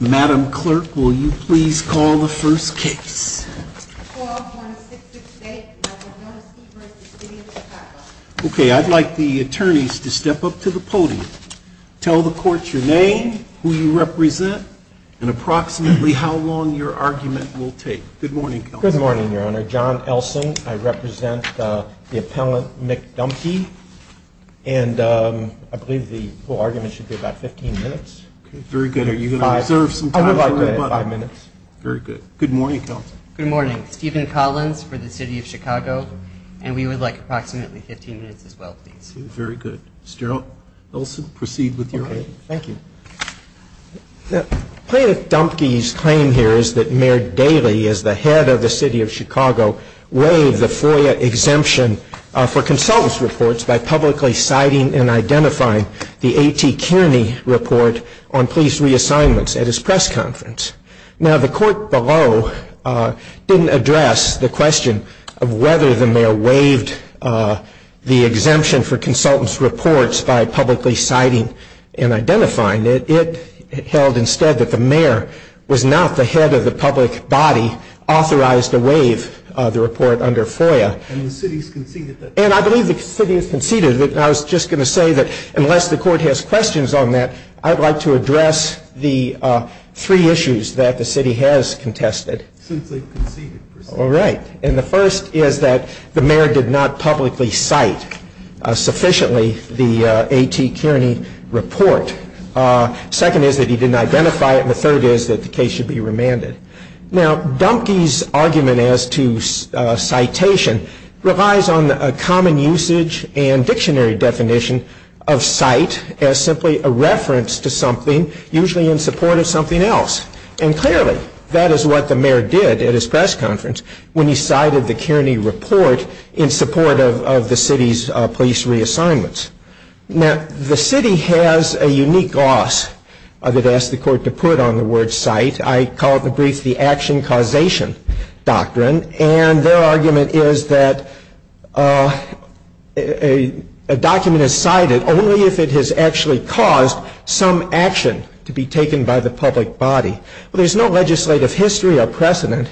Madam Clerk, will you please call the first case? Okay, I'd like the attorneys to step up to the podium. Tell the court your name, who you represent, and approximately how long your argument will take. Good morning. Good morning, Your Honor. John Elson. I represent the appellant, Mick Dumpke, and I believe the whole argument should be about 15 minutes. Very good. Are you going to observe some time? Five minutes. Very good. Good morning, Counsel. Good morning. Stephen Collins for the City of Chicago, and we would like approximately 15 minutes as well, please. Very good. Mr. Elson, proceed with your argument. Thank you. Plaintiff Dumpke's claim here is that Mayor Daley, as the head of the City of Chicago, waived the FOIA exemption for consultants' reports by publicly citing and identifying the A.T. Kearney report on police reassignments at his press conference. Now, the court below didn't address the question of whether the mayor waived the exemption for consultants' reports by publicly citing and identifying it. It held instead that the mayor was not the head of the public body authorized to waive the report under FOIA. And the city has conceded that. I was just going to say that unless the court has questions on that, I'd like to address the three issues that the city has contested. Since they've conceded, proceed. All right. And the first is that the mayor did not publicly cite sufficiently the A.T. Kearney report. Second is that he didn't identify it, and the third is that the case should be remanded. Now, Dumpke's argument as to citation relies on a common usage and dictionary definition of cite as simply a reference to something, usually in support of something else. And clearly, that is what the mayor did at his press conference when he cited the Kearney report in support of the city's police reassignments. Now, the city has a unique loss that it asked the court to put on the word cite. I call it in brief the action causation doctrine. And their argument is that a document is cited only if it has actually caused some action to be taken by the public body. But there's no legislative history or precedent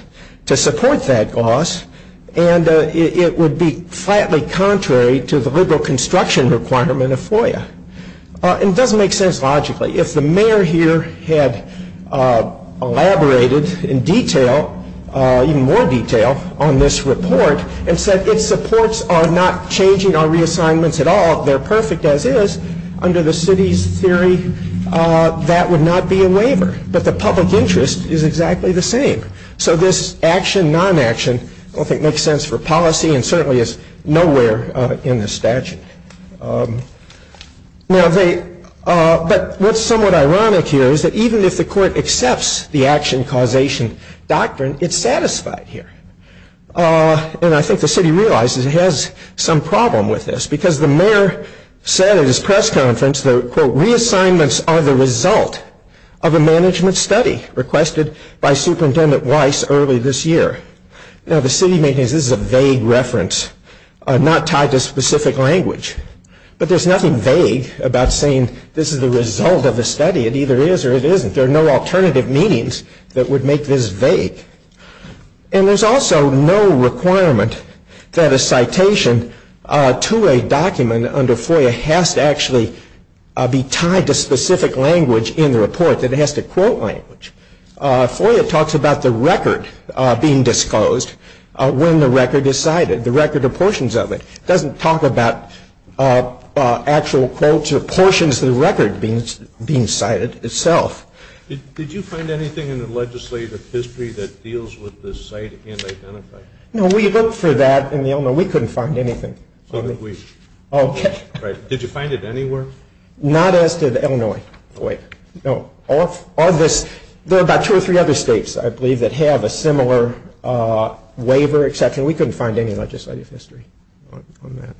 to support that loss, and it would be flatly contrary to the liberal construction requirement of FOIA. And it doesn't make sense logically. If the mayor here had elaborated in detail, even more detail, on this report and said its supports are not changing our reassignments at all, they're perfect as is, under the city's theory, that would not be a waiver. But the public interest is exactly the same. So this action, non-action, I don't think makes sense for policy and certainly is nowhere in the statute. But what's somewhat ironic here is that even if the court accepts the action causation doctrine, it's satisfied here. And I think the city realizes it has some problem with this, because the mayor said at his press conference that, quote, reassignments are the result of a management study requested by Superintendent Weiss early this year. Now, the city maintains this is a vague reference, not tied to specific language. But there's nothing vague about saying this is the result of a study. It either is or it isn't. There are no alternative meanings that would make this vague. And there's also no requirement that a citation to a document under FOIA has to actually be tied to specific language in the report, that it has to quote language. FOIA talks about the record being disclosed when the record is cited, the record of portions of it. It doesn't talk about actual quotes or portions of the record being cited itself. Did you find anything in the legislative history that deals with the cite and identify? No, we looked for that in the Illinois. We couldn't find anything. So did we. Okay. Right. Did you find it anywhere? Not as did Illinois, FOIA. There are about two or three other states, I believe, that have a similar waiver exception. We couldn't find any legislative history on that.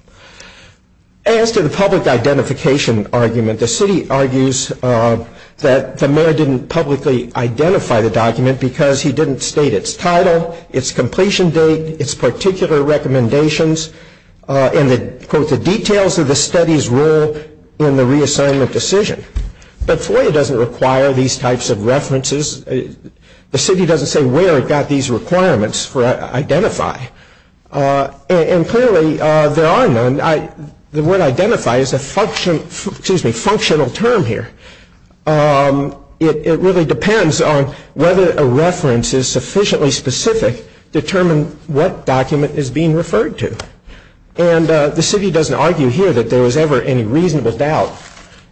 As to the public identification argument, the city argues that the mayor didn't publicly identify the document because he didn't state its title, its completion date, its particular recommendations, and the details of the study's role in the reassignment decision. But FOIA doesn't require these types of references. The city doesn't say where it got these requirements for identify. And clearly there are none. The word identify is a functional term here. It really depends on whether a reference is sufficiently specific to determine what document is being referred to. And the city doesn't argue here that there was ever any reasonable doubt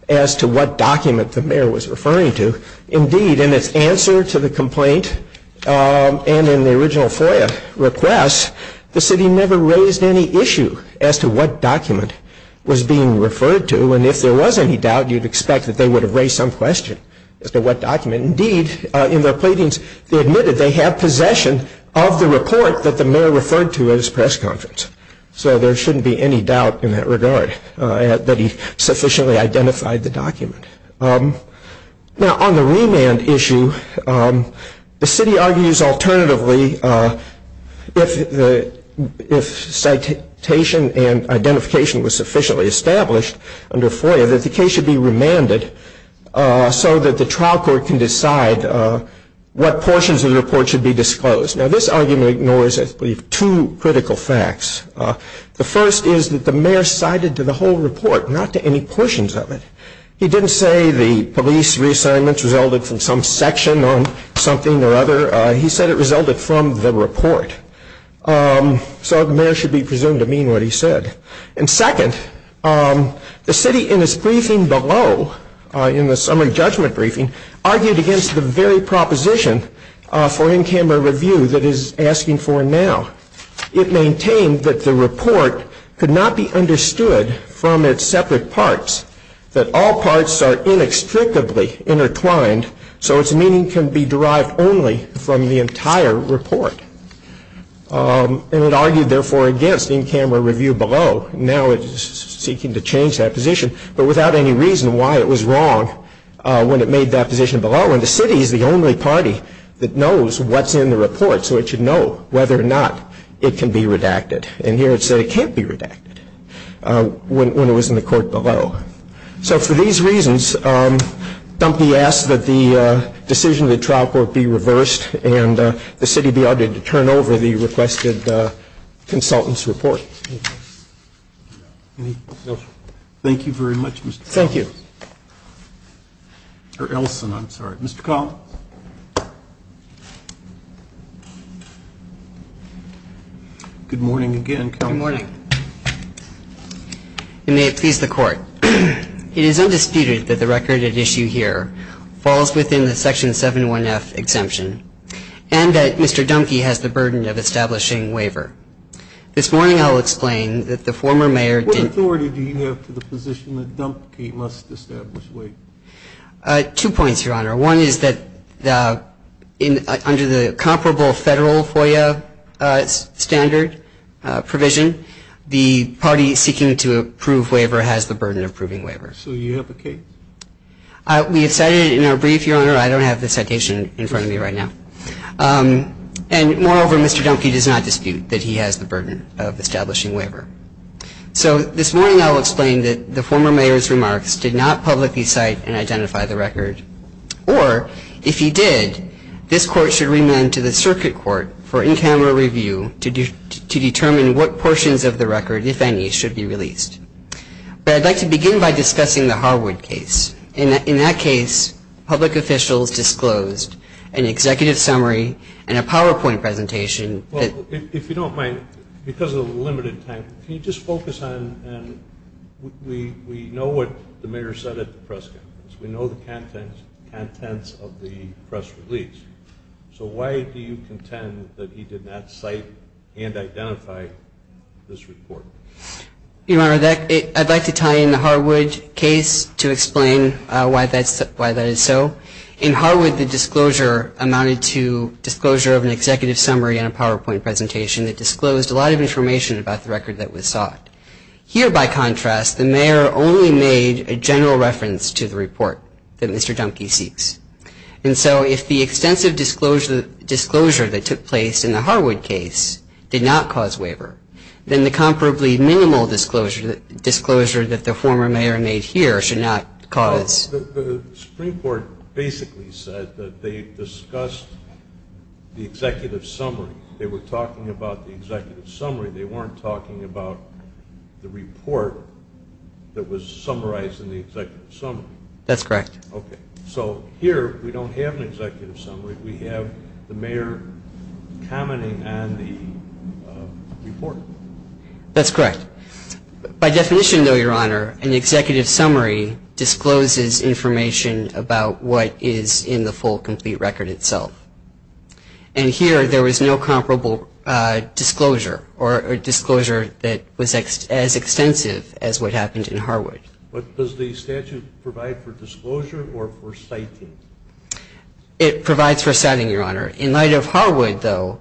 as to what document the mayor was referring to. Indeed, in its answer to the complaint and in the original FOIA request, the city never raised any issue as to what document was being referred to. And if there was any doubt, you'd expect that they would have raised some question as to what document. And indeed, in their pleadings, they admitted they have possession of the report that the mayor referred to at his press conference. So there shouldn't be any doubt in that regard that he sufficiently identified the document. Now, on the remand issue, the city argues alternatively, if citation and identification was sufficiently established under FOIA, that the case should be remanded so that the trial court can decide what portions of the report should be disclosed. Now, this argument ignores, I believe, two critical facts. The first is that the mayor cited to the whole report, not to any portions of it. He didn't say the police reassignments resulted from some section on something or other. He said it resulted from the report. So the mayor should be presumed to mean what he said. And second, the city in its briefing below, in the summary judgment briefing, argued against the very proposition for in-camera review that it is asking for now. It maintained that the report could not be understood from its separate parts, that all parts are inextricably intertwined, so its meaning can be derived only from the entire report. And it argued, therefore, against in-camera review below. Now it is seeking to change that position, but without any reason why it was wrong when it made that position below. And the city is the only party that knows what's in the report, so it should know whether or not it can be redacted. And here it said it can't be redacted when it was in the court below. So for these reasons, Dumpy asked that the decision of the trial court be reversed and the city be ordered to turn over the requested consultant's report. Thank you very much, Mr. Collins. Thank you. Or Elson, I'm sorry. Mr. Collins. Good morning again, Counsel. Good morning. Good morning, Your Honor. It is undisputed that the record at issue here falls within the section 7-1-F exemption and that Mr. Dumpy has the burden of establishing waiver. This morning I'll explain that the former mayor did not. What authority do you have to the position that Dumpy must establish waiver? Two points, Your Honor. One is that under the comparable federal FOIA standard provision, the party seeking to approve waiver has the burden of approving waiver. So you have a case? We have cited it in our brief, Your Honor. I don't have the citation in front of me right now. And moreover, Mr. Dumpy does not dispute that he has the burden of establishing waiver. So this morning I'll explain that the former mayor's remarks did not publicly cite and identify the record. Or if he did, this court should remand to the circuit court for in-camera review to determine what portions of the record, if any, should be released. But I'd like to begin by discussing the Harwood case. In that case, public officials disclosed an executive summary and a PowerPoint presentation. If you don't mind, because of the limited time, can you just focus on we know what the mayor said at the press conference. We know the contents of the press release. So why do you contend that he did not cite and identify this report? Your Honor, I'd like to tie in the Harwood case to explain why that is so. In Harwood, the disclosure amounted to disclosure of an executive summary and a PowerPoint presentation that disclosed a lot of information about the record that was sought. Here, by contrast, the mayor only made a general reference to the report that Mr. Dumpy seeks. And so if the extensive disclosure that took place in the Harwood case did not cause waiver, then the comparably minimal disclosure that the former mayor made here should not cause. The Supreme Court basically said that they discussed the executive summary. They were talking about the executive summary. They weren't talking about the report that was summarized in the executive summary. That's correct. Okay. So here we don't have an executive summary. We have the mayor commenting on the report. That's correct. By definition, though, Your Honor, an executive summary discloses information about what is in the full, complete record itself. And here, there was no comparable disclosure or disclosure that was as extensive as what happened in Harwood. But does the statute provide for disclosure or for citing? It provides for citing, Your Honor. In light of Harwood, though,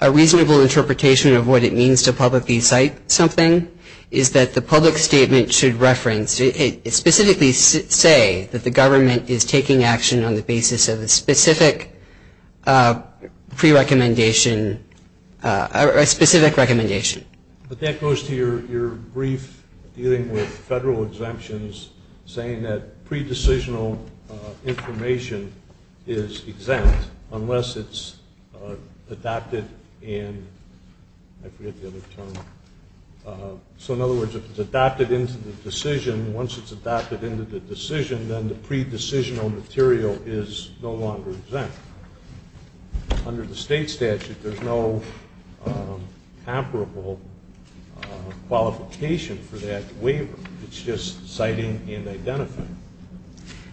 a reasonable interpretation of what it means to publicly cite something is that the public statement should reference and specifically say that the government is taking action on the basis of a specific pre-recommendation or a specific recommendation. But that goes to your brief dealing with federal exemptions, saying that pre-decisional information is exempt unless it's adopted in, I forget the other term. So in other words, if it's adopted into the decision, once it's adopted into the decision, then the pre-decisional material is no longer exempt. Under the state statute, there's no comparable qualification for that waiver. It's just citing and identifying.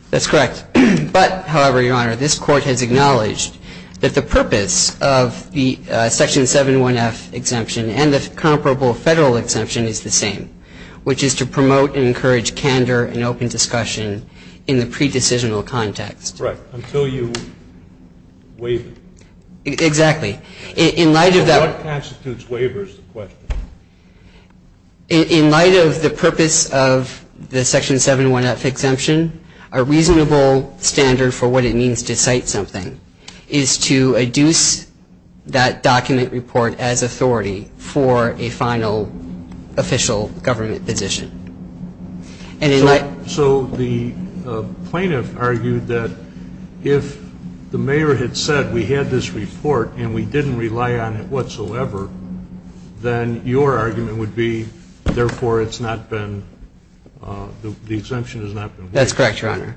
That's correct. But, however, Your Honor, this Court has acknowledged that the purpose of the Section 7-1F exemption and the comparable federal exemption is the same, which is to promote and encourage candor and open discussion in the pre-decisional context. Right. Until you waive it. Exactly. In light of that one. So what constitutes waiver is the question. In light of the purpose of the Section 7-1F exemption, a reasonable standard for what it means to cite something is to adduce that document report as authority for a final official government position. So the plaintiff argued that if the mayor had said we had this report and we didn't rely on it whatsoever, then your argument would be, therefore, it's not been, the exemption has not been waived. That's correct, Your Honor.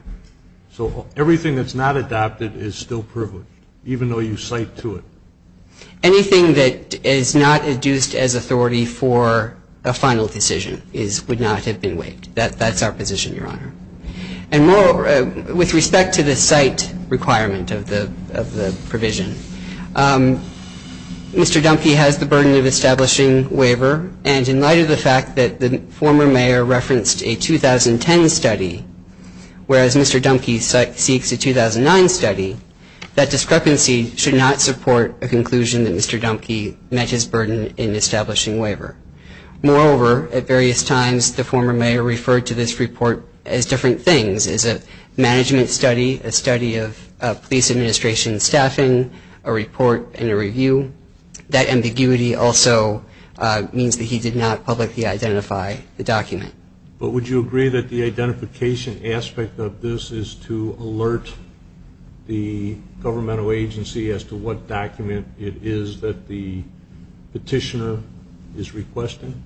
So everything that's not adopted is still privileged, even though you cite to it. Anything that is not adduced as authority for a final decision would not have been waived. That's our position, Your Honor. And with respect to the cite requirement of the provision, Mr. Dunkey has the burden of establishing waiver, and in light of the fact that the former mayor referenced a 2010 study, whereas Mr. Dunkey cites a 2009 study, that discrepancy should not support a conclusion that Mr. Dunkey met his burden in establishing waiver. Moreover, at various times the former mayor referred to this report as different things, as a management study, a study of police administration staffing, a report and a review. That ambiguity also means that he did not publicly identify the document. But would you agree that the identification aspect of this is to alert the governmental agency as to what document it is that the petitioner is requesting?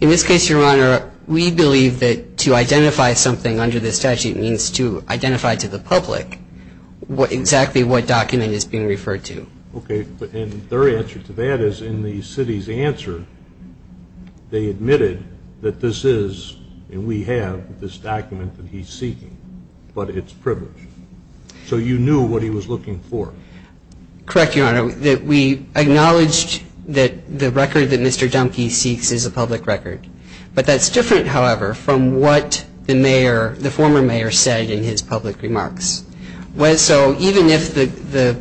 In this case, Your Honor, we believe that to identify something under the statute means to identify to the public exactly what document is being referred to. Okay. And their answer to that is in the city's answer they admitted that this is, and we have, this document that he's seeking, but it's privileged. So you knew what he was looking for? Correct, Your Honor. We acknowledged that the record that Mr. Dunkey seeks is a public record. But that's different, however, from what the former mayor said in his public remarks. So even if the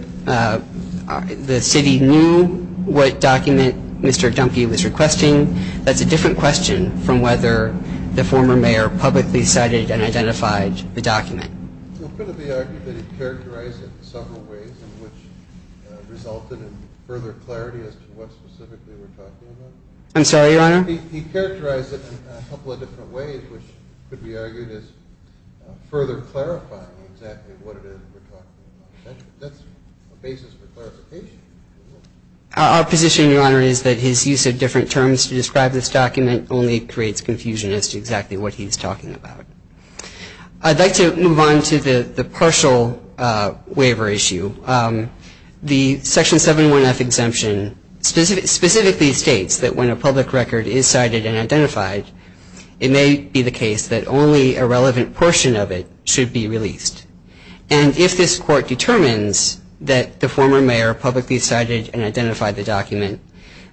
city knew what document Mr. Dunkey was requesting, that's a different question from whether the former mayor publicly cited and identified the document. Could it be argued that he characterized it in several ways in which resulted in further clarity as to what specifically we're talking about? I'm sorry, Your Honor? He characterized it in a couple of different ways, which could be argued as further clarifying exactly what it is that we're talking about. That's a basis for clarification. Our position, Your Honor, is that his use of different terms to describe this document only creates confusion as to exactly what he's talking about. I'd like to move on to the partial waiver issue. The Section 71F exemption specifically states that when a public record is cited and identified, it may be the case that only a relevant portion of it should be released. And if this court determines that the former mayor publicly cited and identified the document,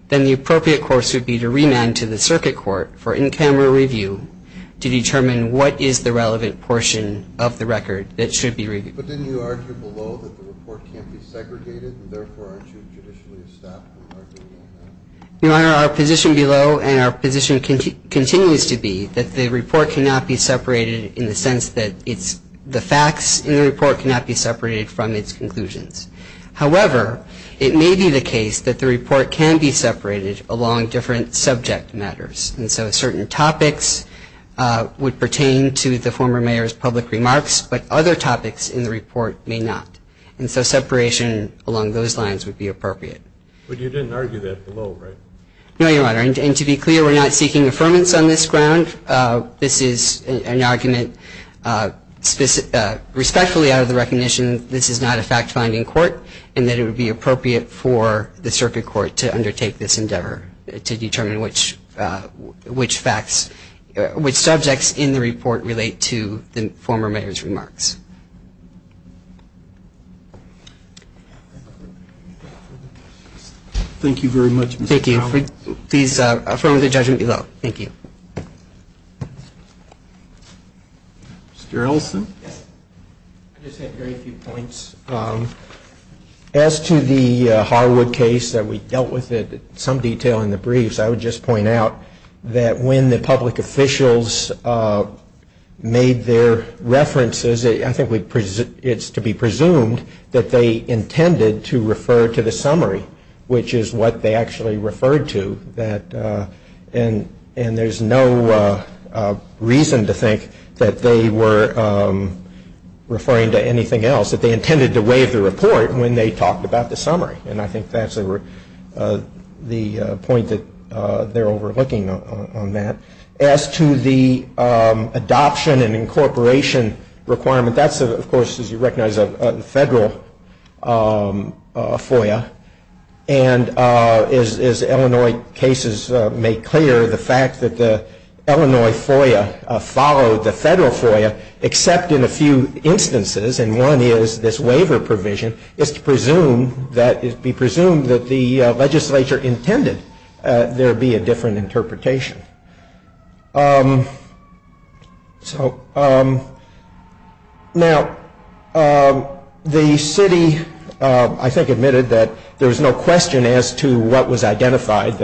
then the appropriate course would be to remand to the circuit court for in-camera review to determine what is the relevant portion of the record that should be reviewed. But didn't you argue below that the report can't be segregated and therefore aren't you judicially established in arguing that? Your Honor, our position below and our position continues to be that the report cannot be separated in the sense that the facts in the report cannot be separated from its conclusions. However, it may be the case that the report can be separated along different subject matters. And so certain topics would pertain to the former mayor's public remarks, but other topics in the report may not. And so separation along those lines would be appropriate. But you didn't argue that below, right? No, Your Honor. And to be clear, we're not seeking affirmance on this ground. This is an argument respectfully out of the recognition this is not a fact-finding court and that it would be appropriate for the circuit court to undertake this endeavor to determine which subjects in the report relate to the former mayor's remarks. Thank you very much, Mr. Powell. Thank you. Please affirm the judgment below. Thank you. Mr. Ellison? I just have very few points. As to the Harwood case that we dealt with in some detail in the briefs, I would just point out that when the public officials made their references, I think it's to be presumed that they intended to refer to the summary, which is what they actually referred to. And there's no reason to think that they were referring to anything else, that they intended to waive the report when they talked about the summary. And I think that's the point that they're overlooking on that. As to the adoption and incorporation requirement, that's, of course, as you recognize, a federal FOIA. And as Illinois cases make clear, the fact that the Illinois FOIA followed the federal FOIA, except in a few instances, and one is this waiver provision, is to be presumed that the legislature intended there be a different interpretation. Now, the city, I think, admitted that there was no question as to what was identified.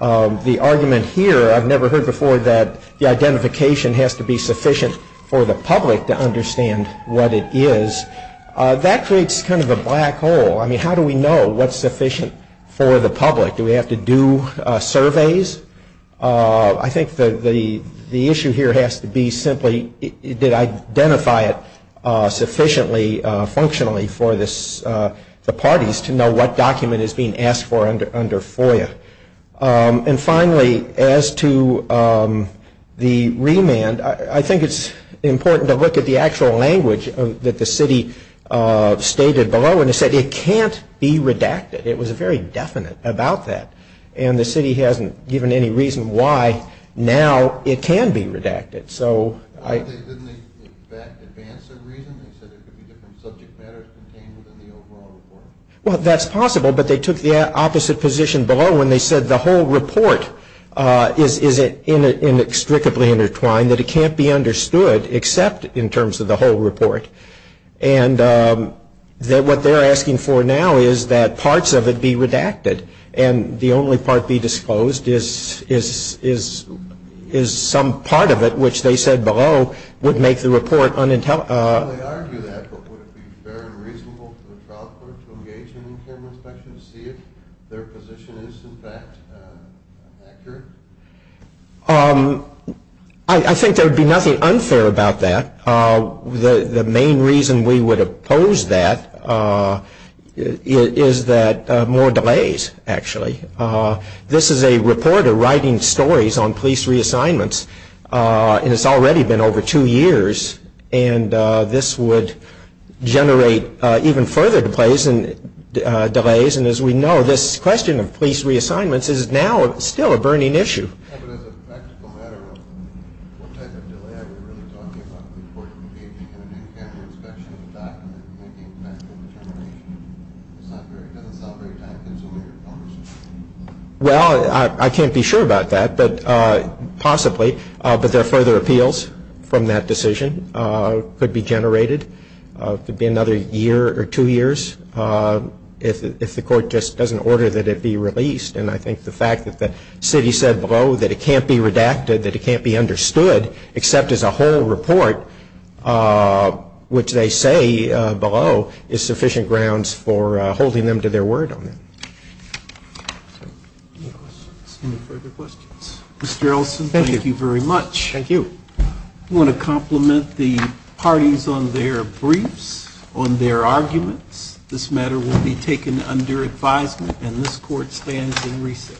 The argument here, I've never heard before, that the identification has to be sufficient for the public to understand what it is, that creates kind of a black hole. I mean, how do we know what's sufficient for the public? Do we have to do surveys? I think the issue here has to be simply, did I identify it sufficiently functionally for the parties to know what document is being asked for under FOIA? And finally, as to the remand, I think it's important to look at the actual language that the city stated below, and it said it can't be redacted. It was very definite about that. And the city hasn't given any reason why now it can be redacted. Didn't they advance their reason? They said there could be different subject matters contained within the overall report. Well, that's possible, but they took the opposite position below when they said the whole report is inextricably intertwined, that it can't be understood except in terms of the whole report. And what they're asking for now is that parts of it be redacted, and the only part be disclosed is some part of it, which they said below would make the report unintelligible. They argue that, but would it be fair and reasonable for the trial court to engage in a camera inspection to see if their position is, in fact, accurate? I think there would be nothing unfair about that. The main reason we would oppose that is that more delays, actually. This is a reporter writing stories on police reassignments, and it's already been over two years, and this would generate even further delays, and as we know, this question of police reassignments is now still a burning issue. As a practical matter, what type of delay are we really talking about? The report engaging in an in-camera inspection of the document and making a factual determination? It doesn't sound very time-consuming or cumbersome. Well, I can't be sure about that, possibly, but there are further appeals from that decision. It could be generated. It could be another year or two years if the court just doesn't order that it be released. And I think the fact that the city said below that it can't be redacted, that it can't be understood except as a whole report, which they say below, is sufficient grounds for holding them to their word on that. Any further questions? Mr. Ellison, thank you very much. Thank you. I want to compliment the parties on their briefs, on their arguments. This matter will be taken under advisement, and this court stands in recess.